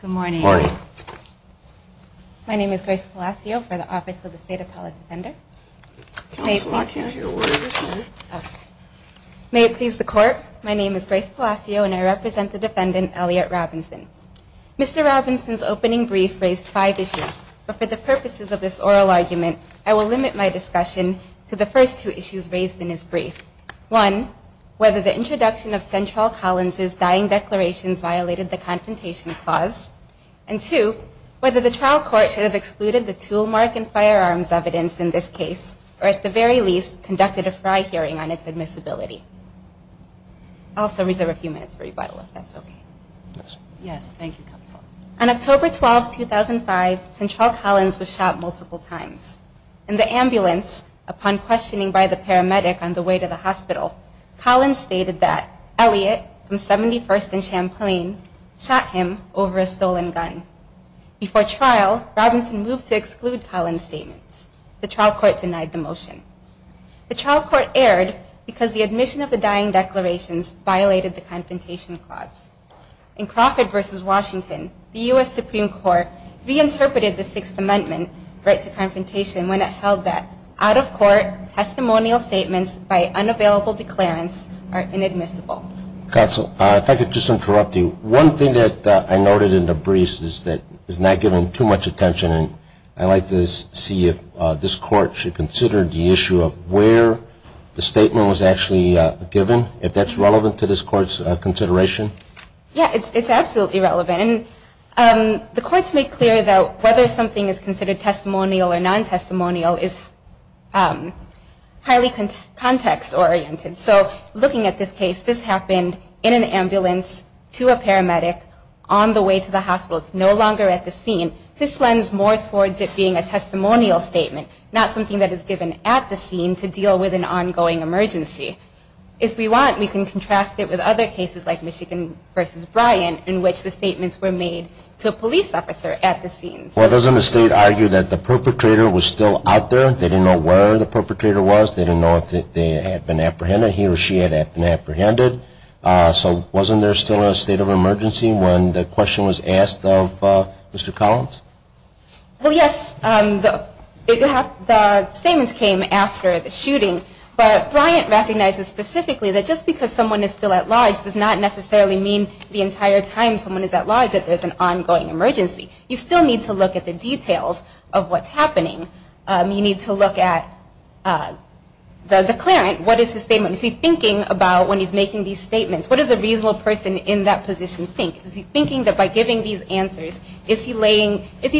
Good morning. My name is Grace Palacio for the Office of the State Appellate Defender. May it please the Court, my name is Grace Palacio and I represent the defendant Elliot Robinson. Mr. Robinson's opening brief raised five issues, but for the purposes of this oral argument, I will limit my discussion to the first two issues raised in his brief. One, whether the introduction of Central Collins' dying declarations violated the Confrontation Clause, and two, whether the trial court should have excluded the tool mark and firearms evidence in this case, or at the very least, conducted a fry hearing on its admissibility. I'll also reserve a few minutes for rebuttal if that's okay. Yes, thank you, Counsel. On October 12, 2005, Central Collins was shot multiple times. In the ambulance, upon questioning by the paramedic on the way to the hospital, Collins stated that Elliot from 71st and Champlain shot him over a stolen gun. Before trial, Robinson moved to exclude Collins' statements. The trial court denied the motion. The trial court erred because the admission of the dying declarations violated the Confrontation Clause. In Crawford v. Washington, the U.S. Supreme Court reinterpreted the Sixth Amendment right to confrontation when it held that out-of-court testimonial statements by unavailable declarants are inadmissible. Counsel, if I could just interrupt you. One thing that I noted in the brief is that it's not given too much attention, and I'd like to see if this Court should consider the issue of where the statement was actually given, if that's relevant to this Court's consideration. Yeah, it's absolutely relevant. And the Courts make clear that whether something is considered testimonial or non-testimonial is highly context-oriented. So looking at this case, this happened in an ambulance to a paramedic on the way to the hospital. It's no longer at the scene. This lends more towards it being a testimonial statement, not something that is given at the scene to deal with an ongoing emergency. If we want, we can contrast it with other cases like Michigan v. Bryant in which the statements were made to a police officer at the scene. Well, doesn't the State argue that the perpetrator was still out there? They didn't know where the perpetrator was. They didn't know if they had been apprehended. He or she had been apprehended. So wasn't there still a state of emergency when the question was asked of Mr. Collins? Well, yes. The statements came after the shooting. But Bryant recognizes specifically that just because someone is still at large does not necessarily mean the entire time someone is at large that there's an ongoing emergency. You still need to look at the details of what's happening. You need to look at the declarant. What is his statement? Is he thinking about when he's making these statements? What does a reasonable person in that position think? Is he thinking that by giving these answers, is he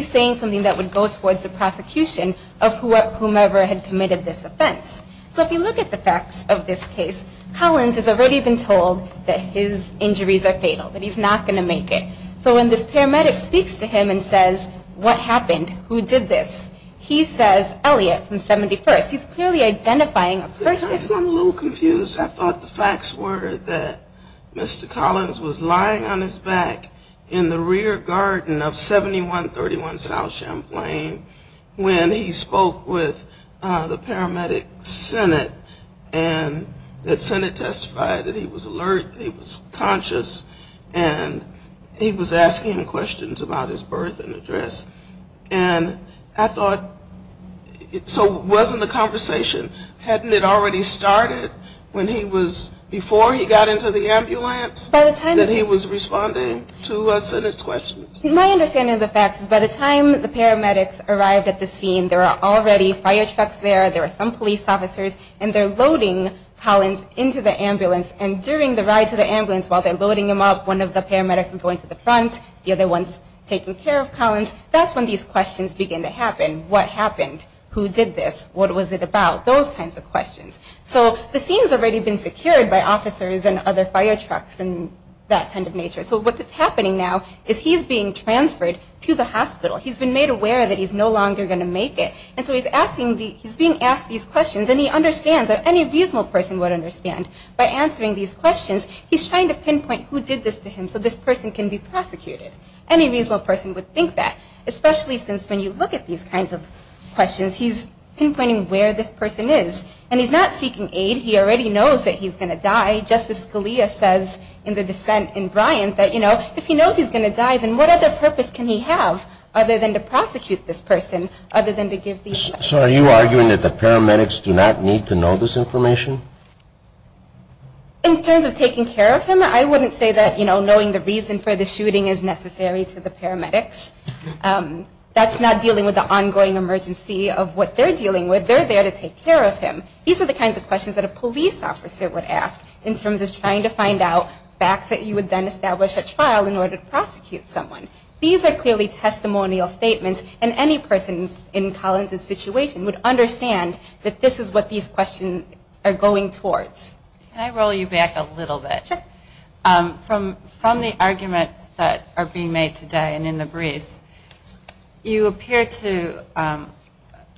saying something that would go towards the prosecution of whomever had committed this offense? So if you look at the facts of this case, Collins has already been told that his injuries are fatal, that he's not going to make it. So when this paramedic speaks to him and says, what happened? Who did this? He says, Elliot from 71st. He's clearly identifying a person. I'm a little confused. I thought the facts were that Mr. Collins was lying on his back in the rear garden of 7131 South Champlain when he spoke with the paramedic, Sennett, and that Sennett testified that he was alert, he was conscious, and he was asking questions about his birth and address. And I thought, so wasn't the conversation, hadn't it already happened? That he was responding to Sennett's questions? My understanding of the facts is by the time the paramedics arrived at the scene, there are already fire trucks there, there are some police officers, and they're loading Collins into the ambulance. And during the ride to the ambulance, while they're loading him up, one of the paramedics is going to the front, the other one's taking care of Collins. That's when these questions begin to happen. What happened? Who did this? What was it about? Those kinds of questions. So the scene's already been secured by officers and other fire trucks and that kind of nature. So what's happening now is he's being transferred to the hospital. He's been made aware that he's no longer going to make it. And so he's being asked these questions, and he understands that any reasonable person would understand. By answering these questions, he's trying to pinpoint who did this to him so this person can be prosecuted. Any reasonable person would think that, especially since when you look at these kinds of questions, he's pinpointing where this person is. And he's not seeking aid. He already knows that he's going to die. Justice Scalia says in the dissent in Bryant that, you know, if he knows he's going to die, then what other purpose can he have other than to prosecute this person, other than to give these facts? So are you arguing that the paramedics do not need to know this information? In terms of taking care of him, I wouldn't say that knowing the reason for the shooting is necessary to the paramedics. That's not dealing with the ongoing emergency of what they're dealing with. They're there to take care of him. These are the kinds of questions that a police officer would ask in terms of trying to find out facts that you would then establish at trial in order to prosecute someone. These are clearly testimonial statements, and any person in Collins' situation would understand that this is what these questions are going towards. Can I roll you back a little bit? Sure. From the arguments that are being made today and in the briefs, you appear to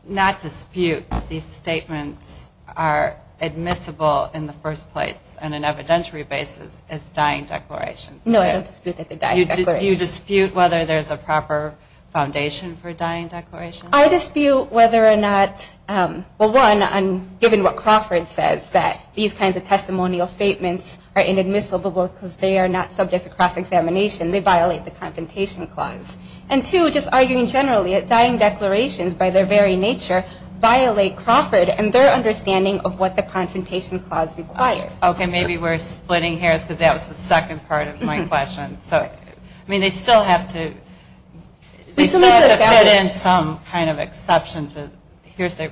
not dispute that these statements are admissible in the first place on an evidentiary basis as dying declarations. No, I don't dispute that they're dying declarations. Do you dispute whether there's a proper foundation for dying declarations? I dispute whether or not, well, one, given what Crawford says, that these kinds of testimonial statements are inadmissible because they are not subject to cross-examination. They violate the Confrontation Clause. And two, just arguing generally, that dying declarations, by their very nature, violate Crawford and their understanding of what the Confrontation Clause requires. Okay, maybe we're splitting hairs because that was the second part of my question. I mean, they still have to fit in some kind of exception.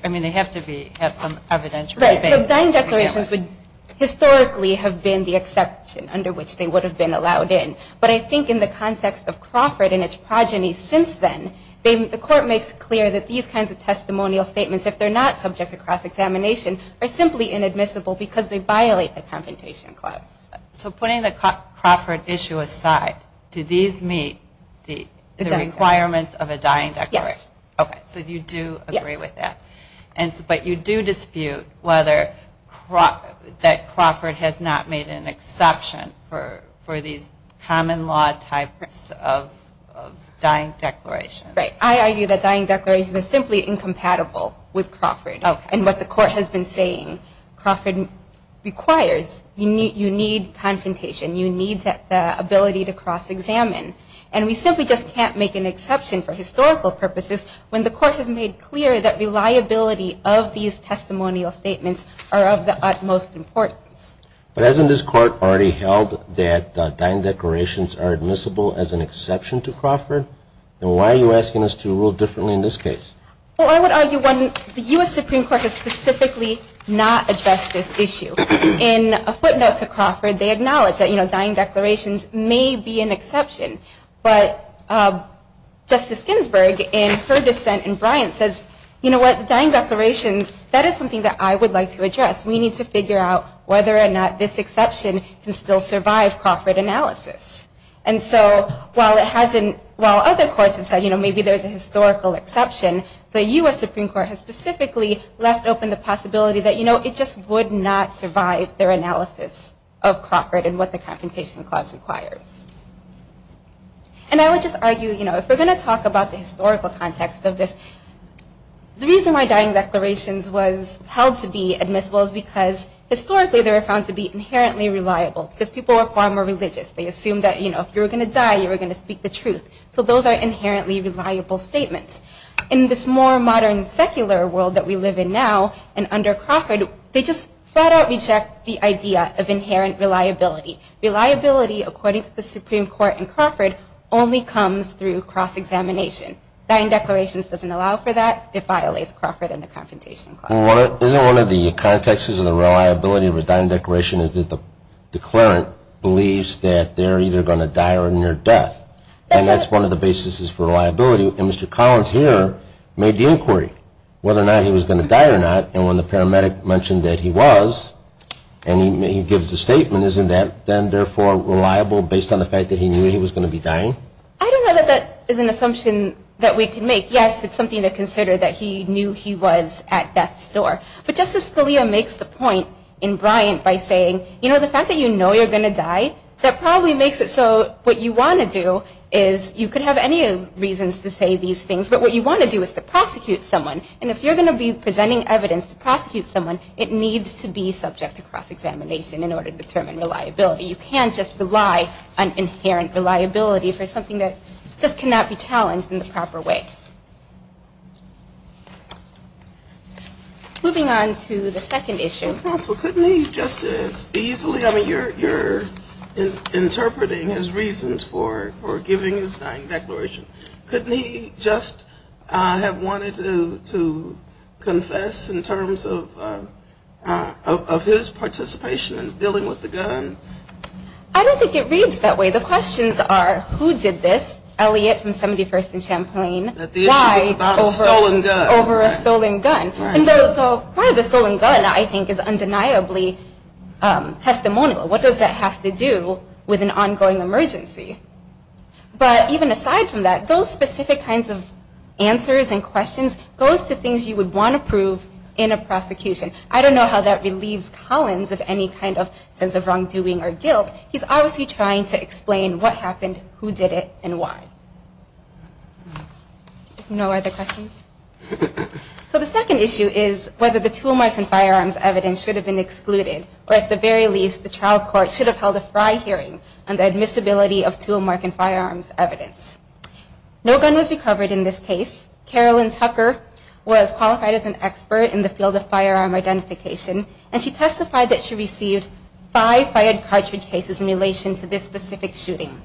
I mean, they have to have some evidentiary basis. Right, so dying declarations would historically have been the exception under which they would have been allowed in. But I think in the context of Crawford and its progeny since then, the Court makes clear that these kinds of testimonial statements, if they're not subject to cross-examination, are simply inadmissible because they violate the Confrontation Clause. So putting the Crawford issue aside, do these meet the requirements of a dying declaration? Yes. Okay, so you do agree with that. Yes. But you do dispute that Crawford has not made an exception for these common law types of dying declarations. Right, I argue that dying declarations are simply incompatible with Crawford. And what the Court has been saying, Crawford requires, you need confrontation, you need the ability to cross-examine. And we simply just can't make an exception for historical purposes when the Court has made clear that reliability of these testimonial statements are of the utmost importance. But hasn't this Court already held that dying declarations are admissible as an exception to Crawford? And why are you asking us to rule differently in this case? Well, I would argue, one, the U.S. Supreme Court has specifically not addressed this issue. In a footnote to Crawford, they acknowledge that, you know, dying declarations may be an exception. But Justice Ginsburg, in her dissent in Bryant, says, you know what, dying declarations, that is something that I would like to address. We need to figure out whether or not this exception can still survive Crawford analysis. And so while it hasn't, while other courts have said, you know, maybe there's a historical exception, the U.S. Supreme Court has specifically left open the possibility that, you know, it just would not survive their analysis of Crawford and what the Confrontation Clause requires. And I would just argue, you know, if we're going to talk about the historical context of this, the reason why dying declarations was held to be admissible is because historically they were found to be inherently reliable. Because people were far more religious. They assumed that, you know, if you were going to die, you were going to speak the truth. So those are inherently reliable statements. In this more modern secular world that we live in now and under Crawford, they just flat out reject the idea of inherent reliability. Reliability, according to the Supreme Court in Crawford, only comes through cross-examination. Dying declarations doesn't allow for that. It violates Crawford and the Confrontation Clause. Isn't one of the contexts of the reliability of a dying declaration is that the declarant believes that they're either going to die or near death? And that's one of the basis for reliability. And Mr. Collins here made the inquiry whether or not he was going to die or not. And when the paramedic mentioned that he was, and he gives the statement, isn't that then therefore reliable based on the fact that he knew he was going to be dying? I don't know that that is an assumption that we can make. Yes, it's something to consider that he knew he was at death's door. But Justice Scalia makes the point in Bryant by saying, you know, the fact that you know you're going to die, that probably makes it so what you want to do is, you could have any reasons to say these things, but what you want to do is to prosecute someone. And if you're going to be presenting evidence to prosecute someone, it needs to be subject to cross-examination in order to determine reliability. You can't just rely on inherent reliability for something that just cannot be challenged in the proper way. Moving on to the second issue. Counsel, couldn't he just as easily, I mean, you're interpreting his reasons for giving his dying declaration. Couldn't he just have wanted to confess in terms of his participation in dealing with the gun? I don't think it reads that way. The questions are, who did this? Elliot from 71st and Champlain. That the issue was about a stolen gun. Over a stolen gun. Right. And part of the stolen gun, I think, is undeniably testimonial. What does that have to do with an ongoing emergency? But even aside from that, those specific kinds of answers and questions, those are the things you would want to prove in a prosecution. I don't know how that relieves Collins of any kind of sense of wrongdoing or guilt. He's obviously trying to explain what happened, who did it, and why. No other questions? So the second issue is whether the tool marks and firearms evidence should have been excluded. Or at the very least, the trial court should have held a fry hearing on the admissibility of tool mark and firearms evidence. No gun was recovered in this case. Carolyn Tucker was qualified as an expert in the field of firearm identification. And she testified that she received five fired cartridge cases in relation to this specific shooting.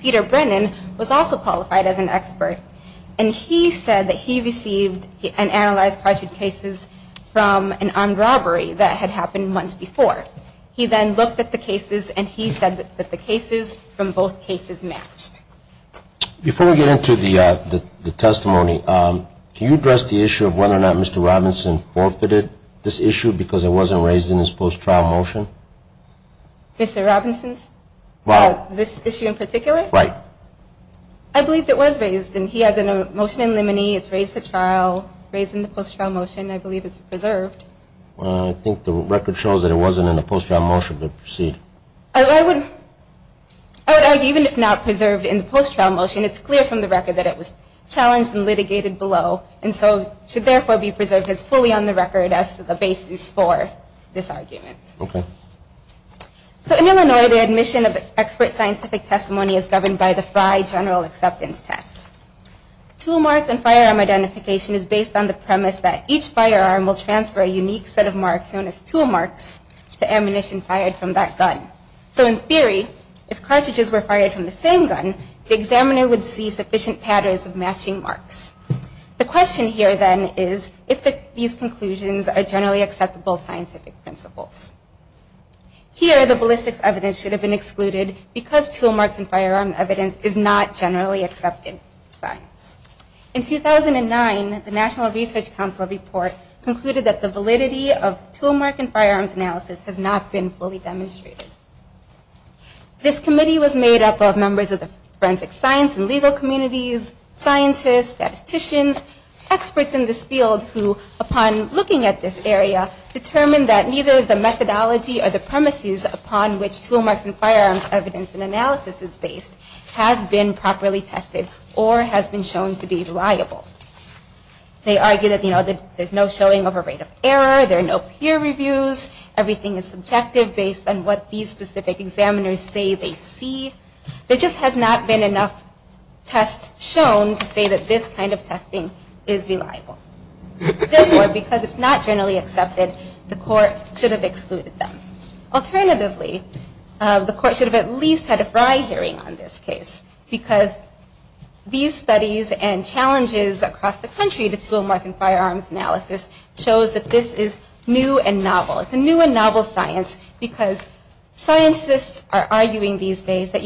Peter Brennan was also qualified as an expert. And he said that he received and analyzed cartridge cases from an armed robbery that had happened months before. He then looked at the cases, and he said that the cases from both cases matched. Before we get into the testimony, can you address the issue of whether or not Mr. Robinson forfeited this issue because it wasn't raised in his post-trial motion? Mr. Robinson's? This issue in particular? Right. I believe it was raised, and he has a motion in limine. It's raised in the post-trial motion. I believe it's preserved. I think the record shows that it wasn't in the post-trial motion, but proceed. I would argue even if not preserved in the post-trial motion, it's clear from the record that it was challenged and litigated below and should therefore be preserved. It's fully on the record as the basis for this argument. Okay. So in Illinois, the admission of expert scientific testimony is governed by the Frye General Acceptance Test. Tool marks and firearm identification is based on the premise that each firearm will transfer a unique set of marks known as tool marks to ammunition fired from that gun. So in theory, if cartridges were fired from the same gun, the examiner would see sufficient patterns of matching marks. The question here then is if these conclusions are generally acceptable scientific principles. Here, the ballistics evidence should have been excluded because tool marks and firearm evidence is not generally accepted science. In 2009, the National Research Council report concluded that the validity of tool mark and firearms analysis has not been fully demonstrated. This committee was made up of members of the forensic science and legal communities, scientists, statisticians, experts in this field who, upon looking at this area, determined that neither the methodology or the premises upon which tool marks and firearms evidence and analysis is based has been properly tested or has been shown to be reliable. They argue that there's no showing of a rate of error, there are no peer reviews, everything is subjective based on what these specific examiners say they see. There just has not been enough tests shown to say that this kind of testing is reliable. Therefore, because it's not generally accepted, the court should have excluded them. Alternatively, the court should have at least had a Fry hearing on this case because these studies and challenges across the country to tool mark and firearms analysis shows that this is new and novel. It's a new and novel science because scientists are arguing these days that,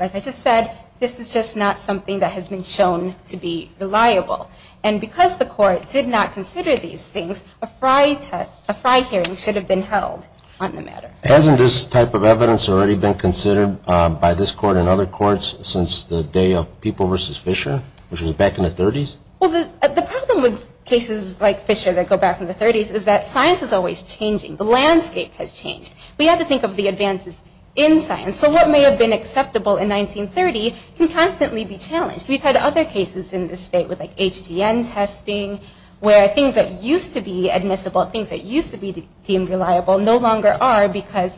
like I just said, this is just not something that has been shown to be reliable. And because the court did not consider these things, a Fry hearing should have been held on the matter. Hasn't this type of evidence already been considered by this court and other courts since the day of People v. Fisher, which was back in the 30s? The problem with cases like Fisher that go back in the 30s is that science is always changing. The landscape has changed. We have to think of the advances in science. So what may have been acceptable in 1930 can constantly be challenged. We've had other cases in this state with, like, HGN testing, where things that used to be admissible, things that used to be deemed reliable, no longer are because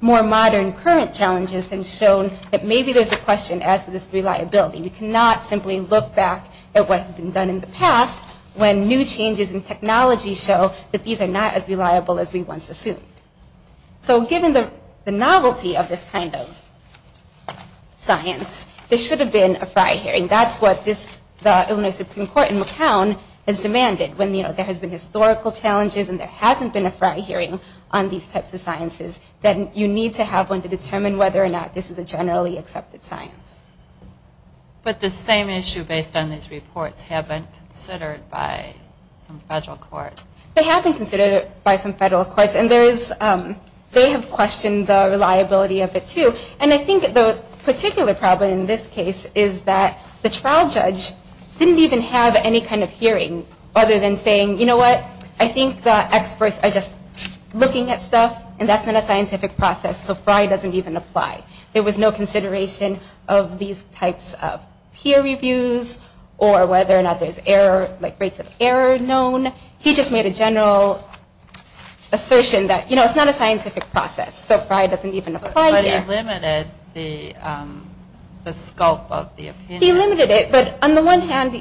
more modern, current challenges have shown that maybe there's a question as to this reliability. We cannot simply look back at what has been done in the past when new changes in technology show that these are not as reliable as we once assumed. So given the novelty of this kind of science, there should have been a Fry hearing. That's what the Illinois Supreme Court in McCown has demanded. When there has been historical challenges and there hasn't been a Fry hearing on these types of sciences, then you need to have one to determine whether or not this is a generally accepted science. But the same issue based on these reports haven't been considered by some federal courts. They have been considered by some federal courts. And they have questioned the reliability of it, too. And I think the particular problem in this case is that the trial judge didn't even have any kind of hearing other than saying, you know what, I think the experts are just looking at stuff, and that's not a scientific process, so Fry doesn't even apply. There was no consideration of these types of peer reviews or whether or not there's error, like, rates of error known. He just made a general assertion that, you know, it's not a scientific process, so Fry doesn't even apply here. But he limited the scope of the opinion. He limited it, but on the one hand,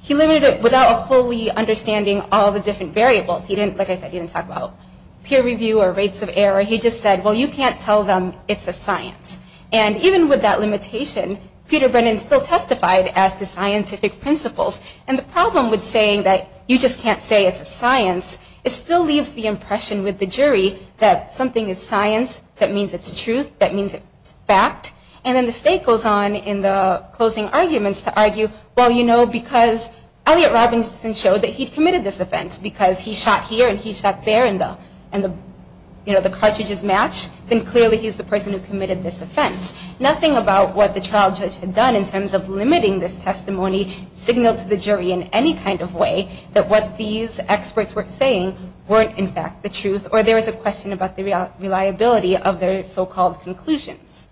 he limited it without fully understanding all the different variables. He didn't, like I said, he didn't talk about peer review or rates of error. He just said, well, you can't tell them it's a science. And even with that limitation, Peter Brennan still testified as to scientific principles. And the problem with saying that you just can't say it's a science, it still leaves the impression with the jury that something is science, that means it's truth, that means it's fact. And then the state goes on in the closing arguments to argue, well, you know, because Elliot Robinson showed that he committed this offense because he shot here and he shot there and the cartridges matched, then clearly he's the person who committed this offense. Nothing about what the trial judge had done in terms of limiting this testimony signaled to the jury in any kind of way that what these experts were saying weren't, in fact, the truth. Or there was a question about the reliability of their so-called conclusions.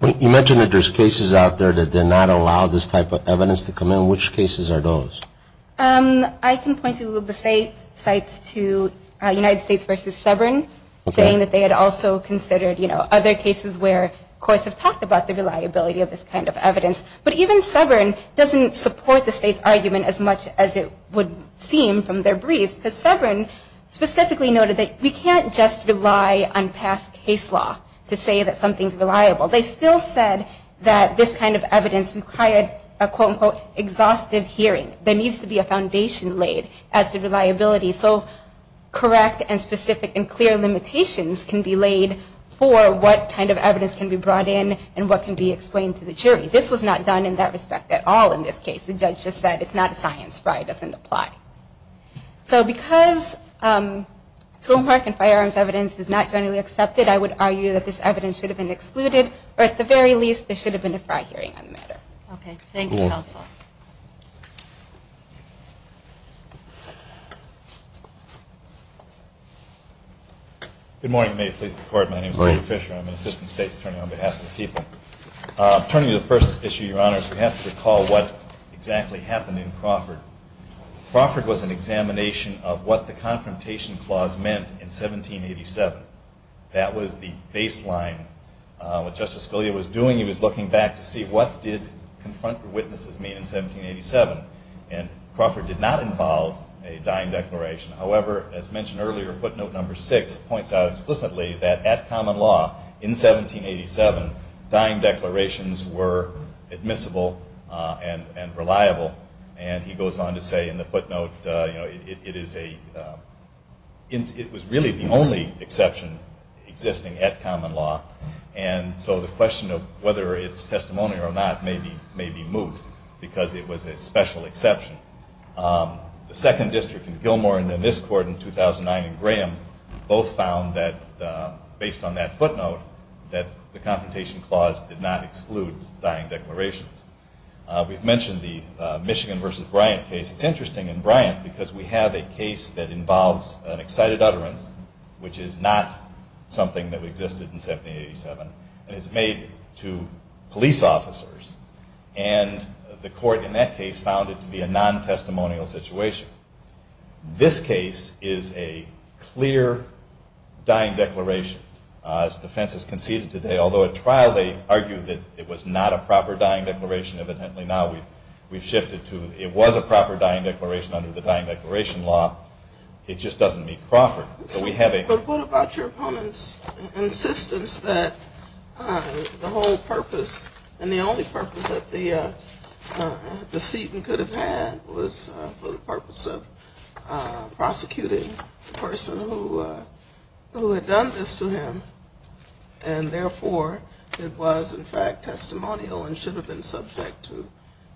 You mentioned that there's cases out there that did not allow this type of evidence to come in. Which cases are those? I can point to the sites to United States versus Suburban, saying that they had also considered, you know, other cases where courts have talked about the reliability of this kind of evidence. But even Suburban doesn't support the state's argument as much as it would seem from their brief, because Suburban specifically noted that we can't just rely on past case law to say that something's reliable. They still said that this kind of evidence required a, quote, unquote, exhaustive hearing. There needs to be a foundation laid as to reliability so correct and specific and clear limitations can be laid for what kind of evidence can be brought in and what can be explained to the jury. This was not done in that respect at all in this case. The judge just said it's not a science. FRI doesn't apply. So because tool mark and firearms evidence is not generally accepted, I would argue that this evidence should have been excluded, or at the very least there should have been a FRI hearing on the matter. Okay. Thank you, counsel. Good morning. May it please the Court. My name is Clayton Fisher. I'm an assistant state attorney on behalf of the people. Turning to the first issue, Your Honors, we have to recall what exactly happened in Crawford. Crawford was an examination of what the Confrontation Clause meant in 1787. That was the baseline. What Justice Scalia was doing, he was looking back to see what did confront the witnesses mean in 1787. And Crawford did not involve a dying declaration. However, as mentioned earlier, footnote number six points out explicitly that, at common law in 1787, dying declarations were admissible and reliable. And he goes on to say in the footnote it was really the only exception existing at common law. And so the question of whether it's testimony or not may be moot because it was a special exception. The second district in Gilmore and then this court in 2009 in Graham both found that, based on that footnote, that the Confrontation Clause did not exclude dying declarations. We've mentioned the Michigan v. Bryant case. It's interesting in Bryant because we have a case that involves an excited utterance, which is not something that existed in 1787, and it's made to police officers. And the court in that case found it to be a non-testimonial situation. This case is a clear dying declaration. As defense has conceded today, although at trial they argued that it was not a proper dying declaration, evidently now we've shifted to it was a proper dying declaration under the dying declaration law. It just doesn't meet Crawford. But what about your opponent's insistence that the whole purpose and the only purpose that the seating could have had was for the purpose of prosecuting the person who had done this to him, and therefore it was, in fact, testimonial and should have been subject to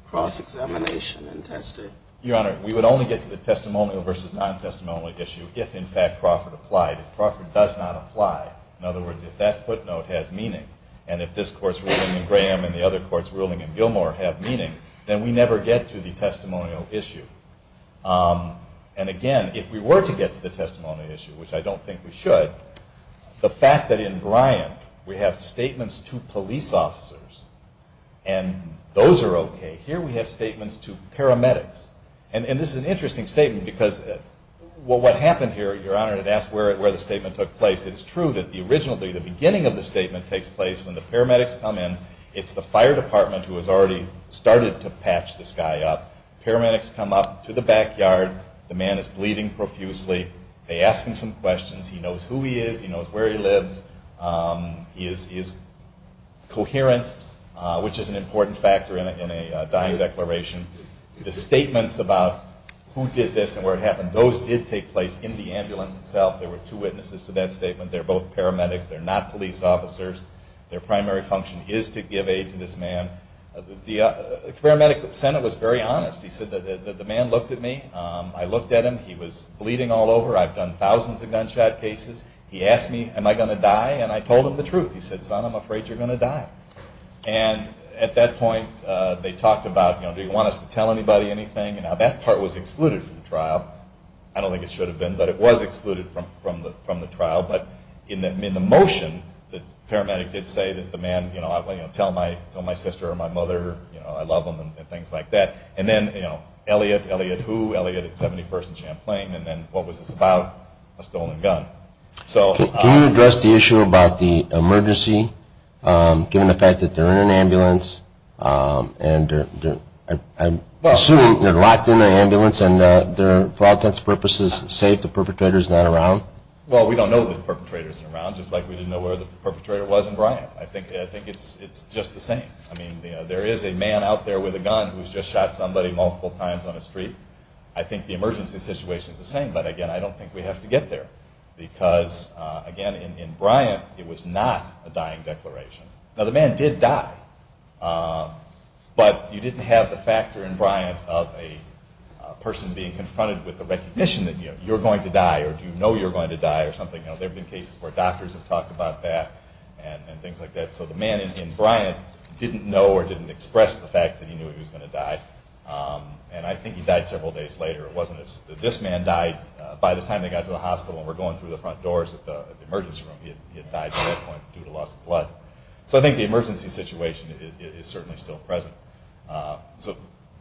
cross-examination and testing? Your Honor, we would only get to the testimonial versus non-testimonial issue if, in fact, Crawford applied. If Crawford does not apply, in other words, if that footnote has meaning, and if this court's ruling in Graham and the other court's ruling in Gilmore have meaning, then we never get to the testimonial issue. And again, if we were to get to the testimonial issue, which I don't think we should, the fact that in Bryant we have statements to police officers and those are okay, here we have statements to paramedics. And this is an interesting statement because what happened here, Your Honor, it asks where the statement took place. It is true that originally the beginning of the statement takes place when the paramedics come in. It's the fire department who has already started to patch this guy up. Paramedics come up to the backyard. The man is bleeding profusely. They ask him some questions. He knows who he is. He knows where he lives. He is coherent, which is an important factor in a dying declaration. The statements about who did this and where it happened, those did take place in the ambulance itself. There were two witnesses to that statement. They're both paramedics. They're not police officers. Their primary function is to give aid to this man. The paramedic sent it was very honest. He said that the man looked at me. I looked at him. He was bleeding all over. I've done thousands of gunshot cases. He asked me, am I going to die? I told him the truth. He said, son, I'm afraid you're going to die. At that point, they talked about, do you want us to tell anybody anything? That part was excluded from the trial. I don't think it should have been, but it was excluded from the trial. In the motion, the paramedic did say that the man, tell my sister or my mother I love them and things like that. Then Elliot, Elliot who? Elliot at 71st and Champlain. Then what was this about? A stolen gun. Can you address the issue about the emergency, given the fact that they're in an ambulance and I'm assuming they're locked in an ambulance and for all intents and purposes safe, the perpetrator's not around? Well, we don't know that the perpetrator's not around, just like we didn't know where the perpetrator was in Bryant. I think it's just the same. There is a man out there with a gun who's just shot somebody multiple times on the street. I think the emergency situation is the same, but, again, I don't think we have to get there because, again, in Bryant it was not a dying declaration. Now the man did die, but you didn't have the factor in Bryant of a person being confronted with the recognition that you're going to die or do you know you're going to die or something. There have been cases where doctors have talked about that and things like that. So the man in Bryant didn't know or didn't express the fact that he knew he was going to die. And I think he died several days later. It wasn't that this man died by the time they got to the hospital and were going through the front doors of the emergency room. He had died at that point due to loss of blood. So I think the emergency situation is certainly still present.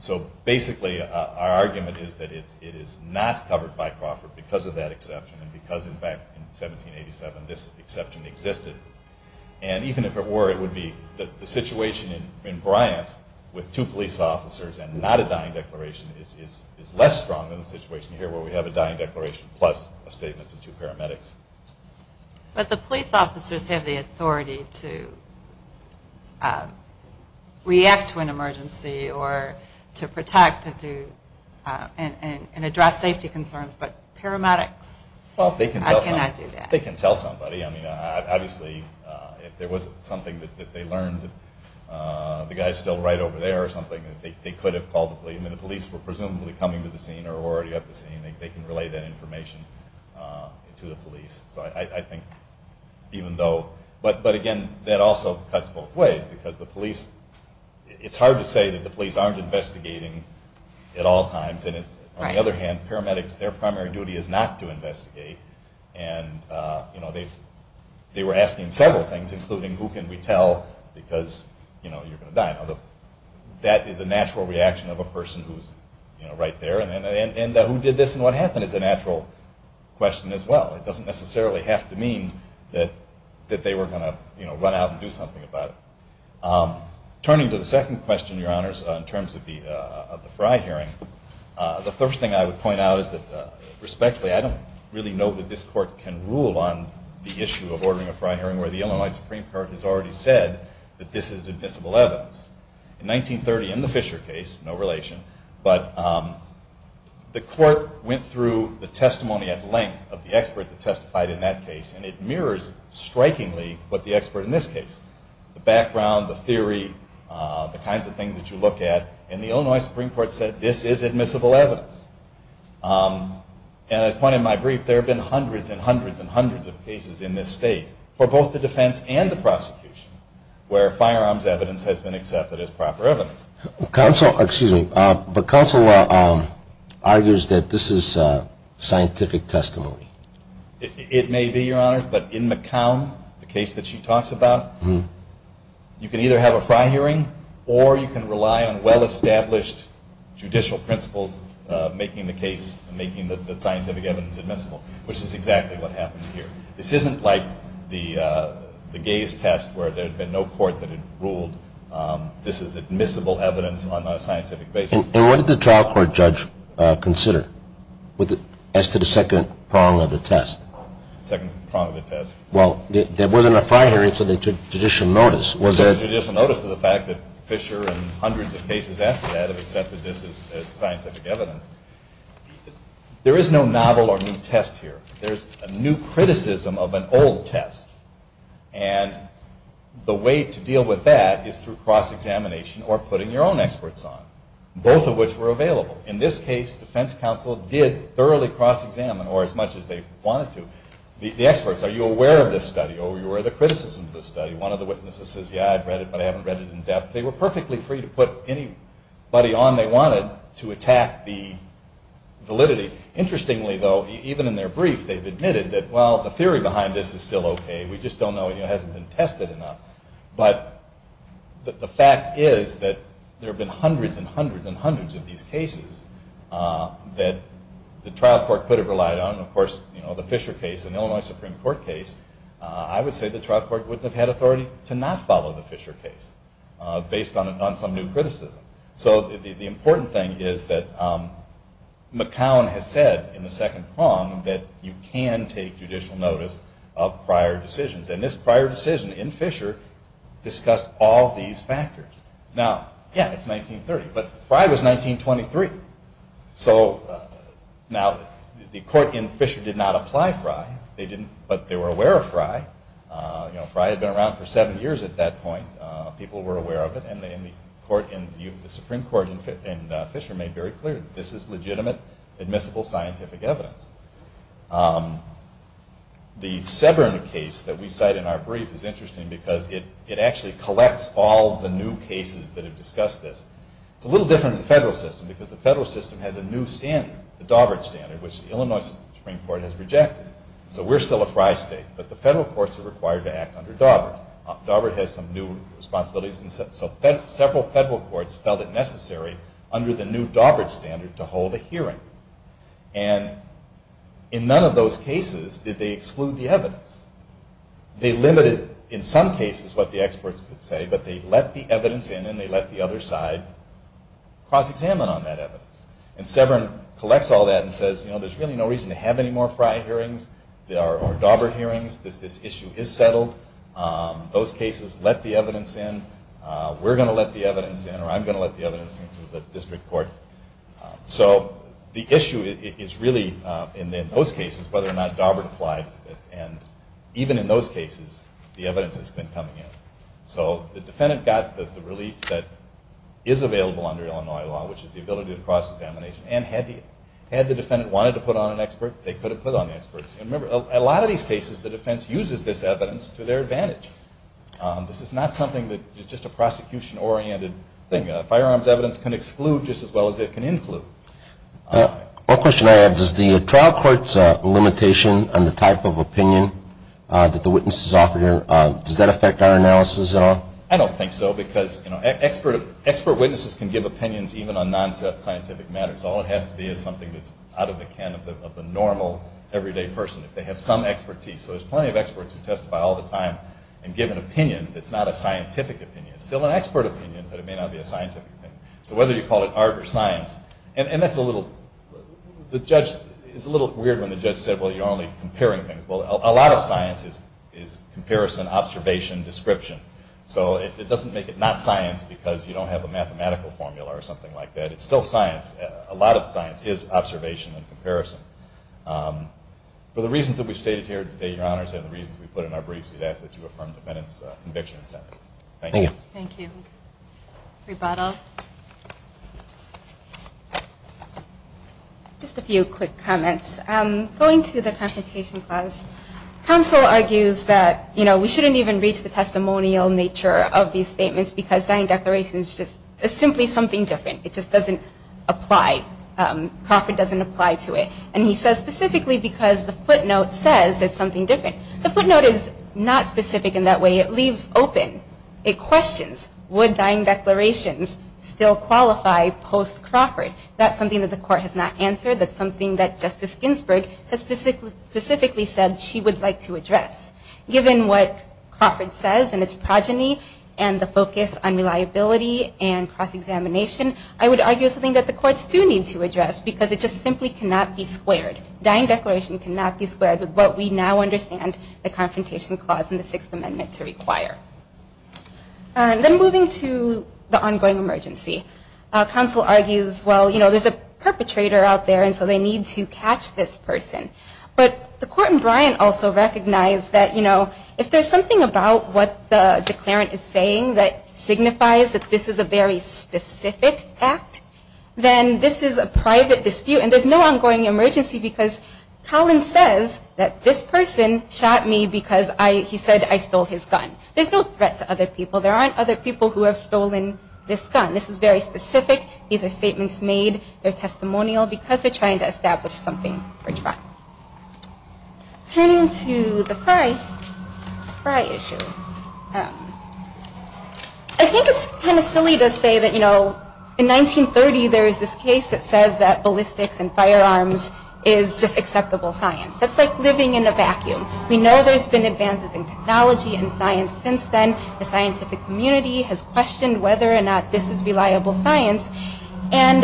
So basically our argument is that it is not covered by Crawford because of that exception and because, in fact, in 1787 this exception existed. And even if it were, it would be the situation in Bryant with two police officers and not a dying declaration is less strong than the situation here where we have a dying declaration plus a statement to two paramedics. But the police officers have the authority to react to an emergency or to protect and address safety concerns, but paramedics cannot do that. They can tell somebody. I mean, obviously if there was something that they learned, the guy is still right over there or something, they could have called the police. I mean, the police were presumably coming to the scene or were already at the scene. They can relay that information to the police. So I think even though, but again, that also cuts both ways because the police, it's hard to say that the police aren't investigating at all times. And on the other hand, paramedics, their primary duty is not to investigate. And they were asking several things, including who can we tell because you're going to die. Now, that is a natural reaction of a person who's right there. And who did this and what happened is a natural question as well. It doesn't necessarily have to mean that they were going to run out and do something about it. Turning to the second question, Your Honors, in terms of the Fry hearing, the first thing I would point out is that respectfully, I don't really know that this court can rule on the issue of ordering a Fry hearing where the Illinois Supreme Court has already said that this is divisible evidence. In 1930 in the Fisher case, no relation, but the court went through the testimony at length of the expert that testified in that case. And it mirrors strikingly what the expert in this case, the background, the theory, the kinds of things that you look at. And the Illinois Supreme Court said this is admissible evidence. And as pointed in my brief, there have been hundreds and hundreds and hundreds of cases in this state for both the defense and the prosecution where firearms evidence has been accepted as proper evidence. Counsel, excuse me, but counsel argues that this is scientific testimony. It may be, Your Honors, but in McCown, the case that she talks about, you can either have a Fry hearing or you can rely on well-established judicial principles making the case and making the scientific evidence admissible, which is exactly what happened here. This isn't like the gaze test where there had been no court that had ruled this is admissible evidence on a scientific basis. And what did the trial court judge consider as to the second prong of the test? Second prong of the test? Well, there wasn't a Fry hearing, so they took judicial notice. They took judicial notice of the fact that Fisher and hundreds of cases after that have accepted this as scientific evidence. There is no novel or new test here. There's a new criticism of an old test. And the way to deal with that is through cross-examination or putting your own experts on, both of which were available. In this case, defense counsel did thoroughly cross-examine, or as much as they wanted to. The experts, are you aware of this study? Are you aware of the criticism of this study? One of the witnesses says, yeah, I've read it, but I haven't read it in depth. They were perfectly free to put anybody on they wanted to attack the validity. Interestingly, though, even in their brief, they've admitted that, well, the theory behind this is still okay. We just don't know. It hasn't been tested enough. But the fact is that there have been hundreds and hundreds and hundreds of these cases that the trial court could have relied on. And, of course, the Fisher case, an Illinois Supreme Court case, I would say the trial court wouldn't have had authority to not follow the Fisher case based on some new criticism. So the important thing is that McCown has said in the second prong that you can take judicial notice of prior decisions. And this prior decision in Fisher discussed all these factors. Now, yeah, it's 1930, but Frey was 1923. So now the court in Fisher did not apply Frey. But they were aware of Frey. You know, Frey had been around for seven years at that point. People were aware of it. And the Supreme Court in Fisher made very clear that this is legitimate, admissible scientific evidence. The Severn case that we cite in our brief is interesting because it actually collects all the new cases that have discussed this. It's a little different in the federal system because the federal system has a new standard, the Daubert standard, which the Illinois Supreme Court has rejected. So we're still a Frey state, but the federal courts are required to act under Daubert. Daubert has some new responsibilities. So several federal courts felt it necessary under the new Daubert standard to hold a hearing. And in none of those cases did they exclude the evidence. They limited in some cases what the experts could say, but they let the evidence in, and they let the other side cross-examine on that evidence. And Severn collects all that and says, you know, there's really no reason to have any more Frey hearings or Daubert hearings. This issue is settled. Those cases let the evidence in. We're going to let the evidence in, or I'm going to let the evidence in because it's a district court. So the issue is really, in those cases, whether or not Daubert applied. And even in those cases, the evidence has been coming in. So the defendant got the relief that is available under Illinois law, which is the ability to cross-examination. And had the defendant wanted to put on an expert, they could have put on the experts. And remember, in a lot of these cases, the defense uses this evidence to their advantage. This is not something that is just a prosecution-oriented thing. Firearms evidence can exclude just as well as it can include. One question I have, does the trial court's limitation on the type of opinion that the witness is offering, does that affect our analysis at all? I don't think so because expert witnesses can give opinions even on non-scientific matters. All it has to be is something that's out of the can of the normal everyday person, if they have some expertise. So there's plenty of experts who testify all the time and give an opinion that's not a scientific opinion. It's still an expert opinion, but it may not be a scientific opinion. So whether you call it art or science, and that's a little, the judge, it's a little weird when the judge said, well, you're only comparing things. Well, a lot of science is comparison, observation, description. So it doesn't make it not science because you don't have a mathematical formula or something like that. It's still science. A lot of science is observation and comparison. For the reasons that we've stated here today, Your Honors, and the reasons we put in our briefs, we'd ask that you affirm the defendant's conviction and sentence. Thank you. Thank you. Rebata. Just a few quick comments. Going to the Confrontation Clause, counsel argues that, you know, we shouldn't even reach the testimonial nature of these statements because Dying Declaration is just simply something different. It just doesn't apply. Crawford doesn't apply to it. And he says specifically because the footnote says it's something different. The footnote is not specific in that way. It leaves open, it questions, would Dying Declaration still qualify post-Crawford? That's something that the court has not answered. That's something that Justice Ginsburg has specifically said she would like to address. Given what Crawford says and its progeny and the focus on reliability and cross-examination, I would argue it's something that the courts do need to address because it just simply cannot be squared. Dying Declaration cannot be squared with what we now understand the Confrontation Clause and the Sixth Amendment to require. Then moving to the ongoing emergency, counsel argues, well, you know, there's a perpetrator out there and so they need to catch this person. But the court in Bryant also recognized that, you know, if there's something about what the declarant is saying that signifies that this is a very specific act, then this is a private dispute. And there's no ongoing emergency because Collin says that this person shot me because he said I stole his gun. There's no threat to other people. There aren't other people who have stolen this gun. This is very specific. These are statements made. They're testimonial because they're trying to establish something for trial. Turning to the Frye issue, I think it's kind of silly to say that, you know, in 1930 there is this case that says that ballistics and firearms is just acceptable science. That's like living in a vacuum. We know there's been advances in technology and science since then. The scientific community has questioned whether or not this is reliable science. And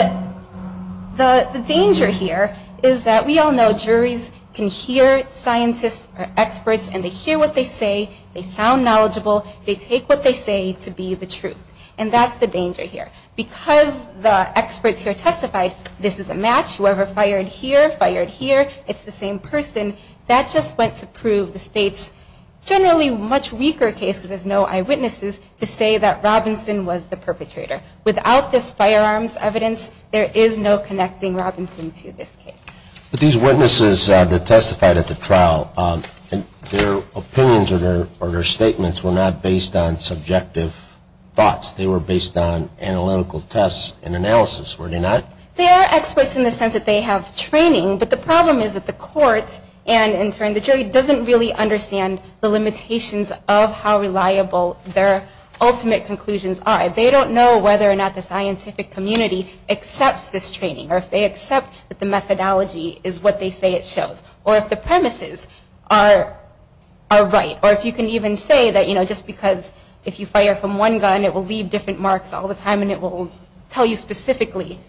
the danger here is that we all know juries can hear scientists or experts and they hear what they say. They sound knowledgeable. They take what they say to be the truth. And that's the danger here. Because the experts here testified this is a match. Whoever fired here fired here. It's the same person. That just went to prove the state's generally much weaker case because there's no eyewitnesses to say that Robinson was the perpetrator. Without this firearms evidence, there is no connecting Robinson to this case. But these witnesses that testified at the trial, their opinions or their statements were not based on subjective thoughts. They were based on analytical tests and analysis, were they not? They are experts in the sense that they have training. But the problem is that the court and, in turn, the jury doesn't really understand the limitations of how reliable their ultimate conclusions are. They don't know whether or not the scientific community accepts this training or if they accept that the methodology is what they say it shows or if the premises are right or if you can even say that, you know, just because if you fire from one gun, it will leave different marks all the time and it will tell you specifically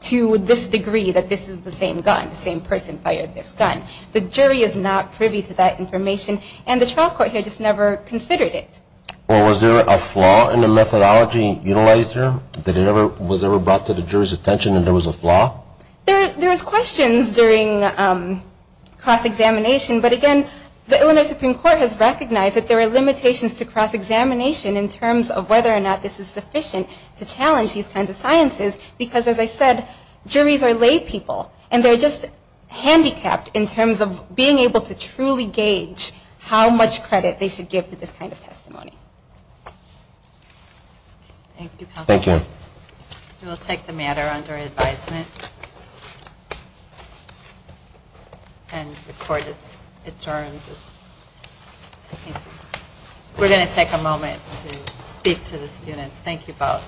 to this degree that this is the same gun, the same person fired this gun. The jury is not privy to that information and the trial court here just never considered it. Well, was there a flaw in the methodology utilized here? Was it ever brought to the jury's attention that there was a flaw? There was questions during cross-examination. But, again, the Illinois Supreme Court has recognized that there are limitations to cross-examination in terms of whether or not this is sufficient to challenge these kinds of sciences because, as I said, juries are lay people and they're just handicapped in terms of being able to truly gauge how much credit they should give to this kind of testimony. Thank you, Counselor. Thank you. We will take the matter under advisement. And the court is adjourned. We're going to take a moment to speak to the students. Thank you both.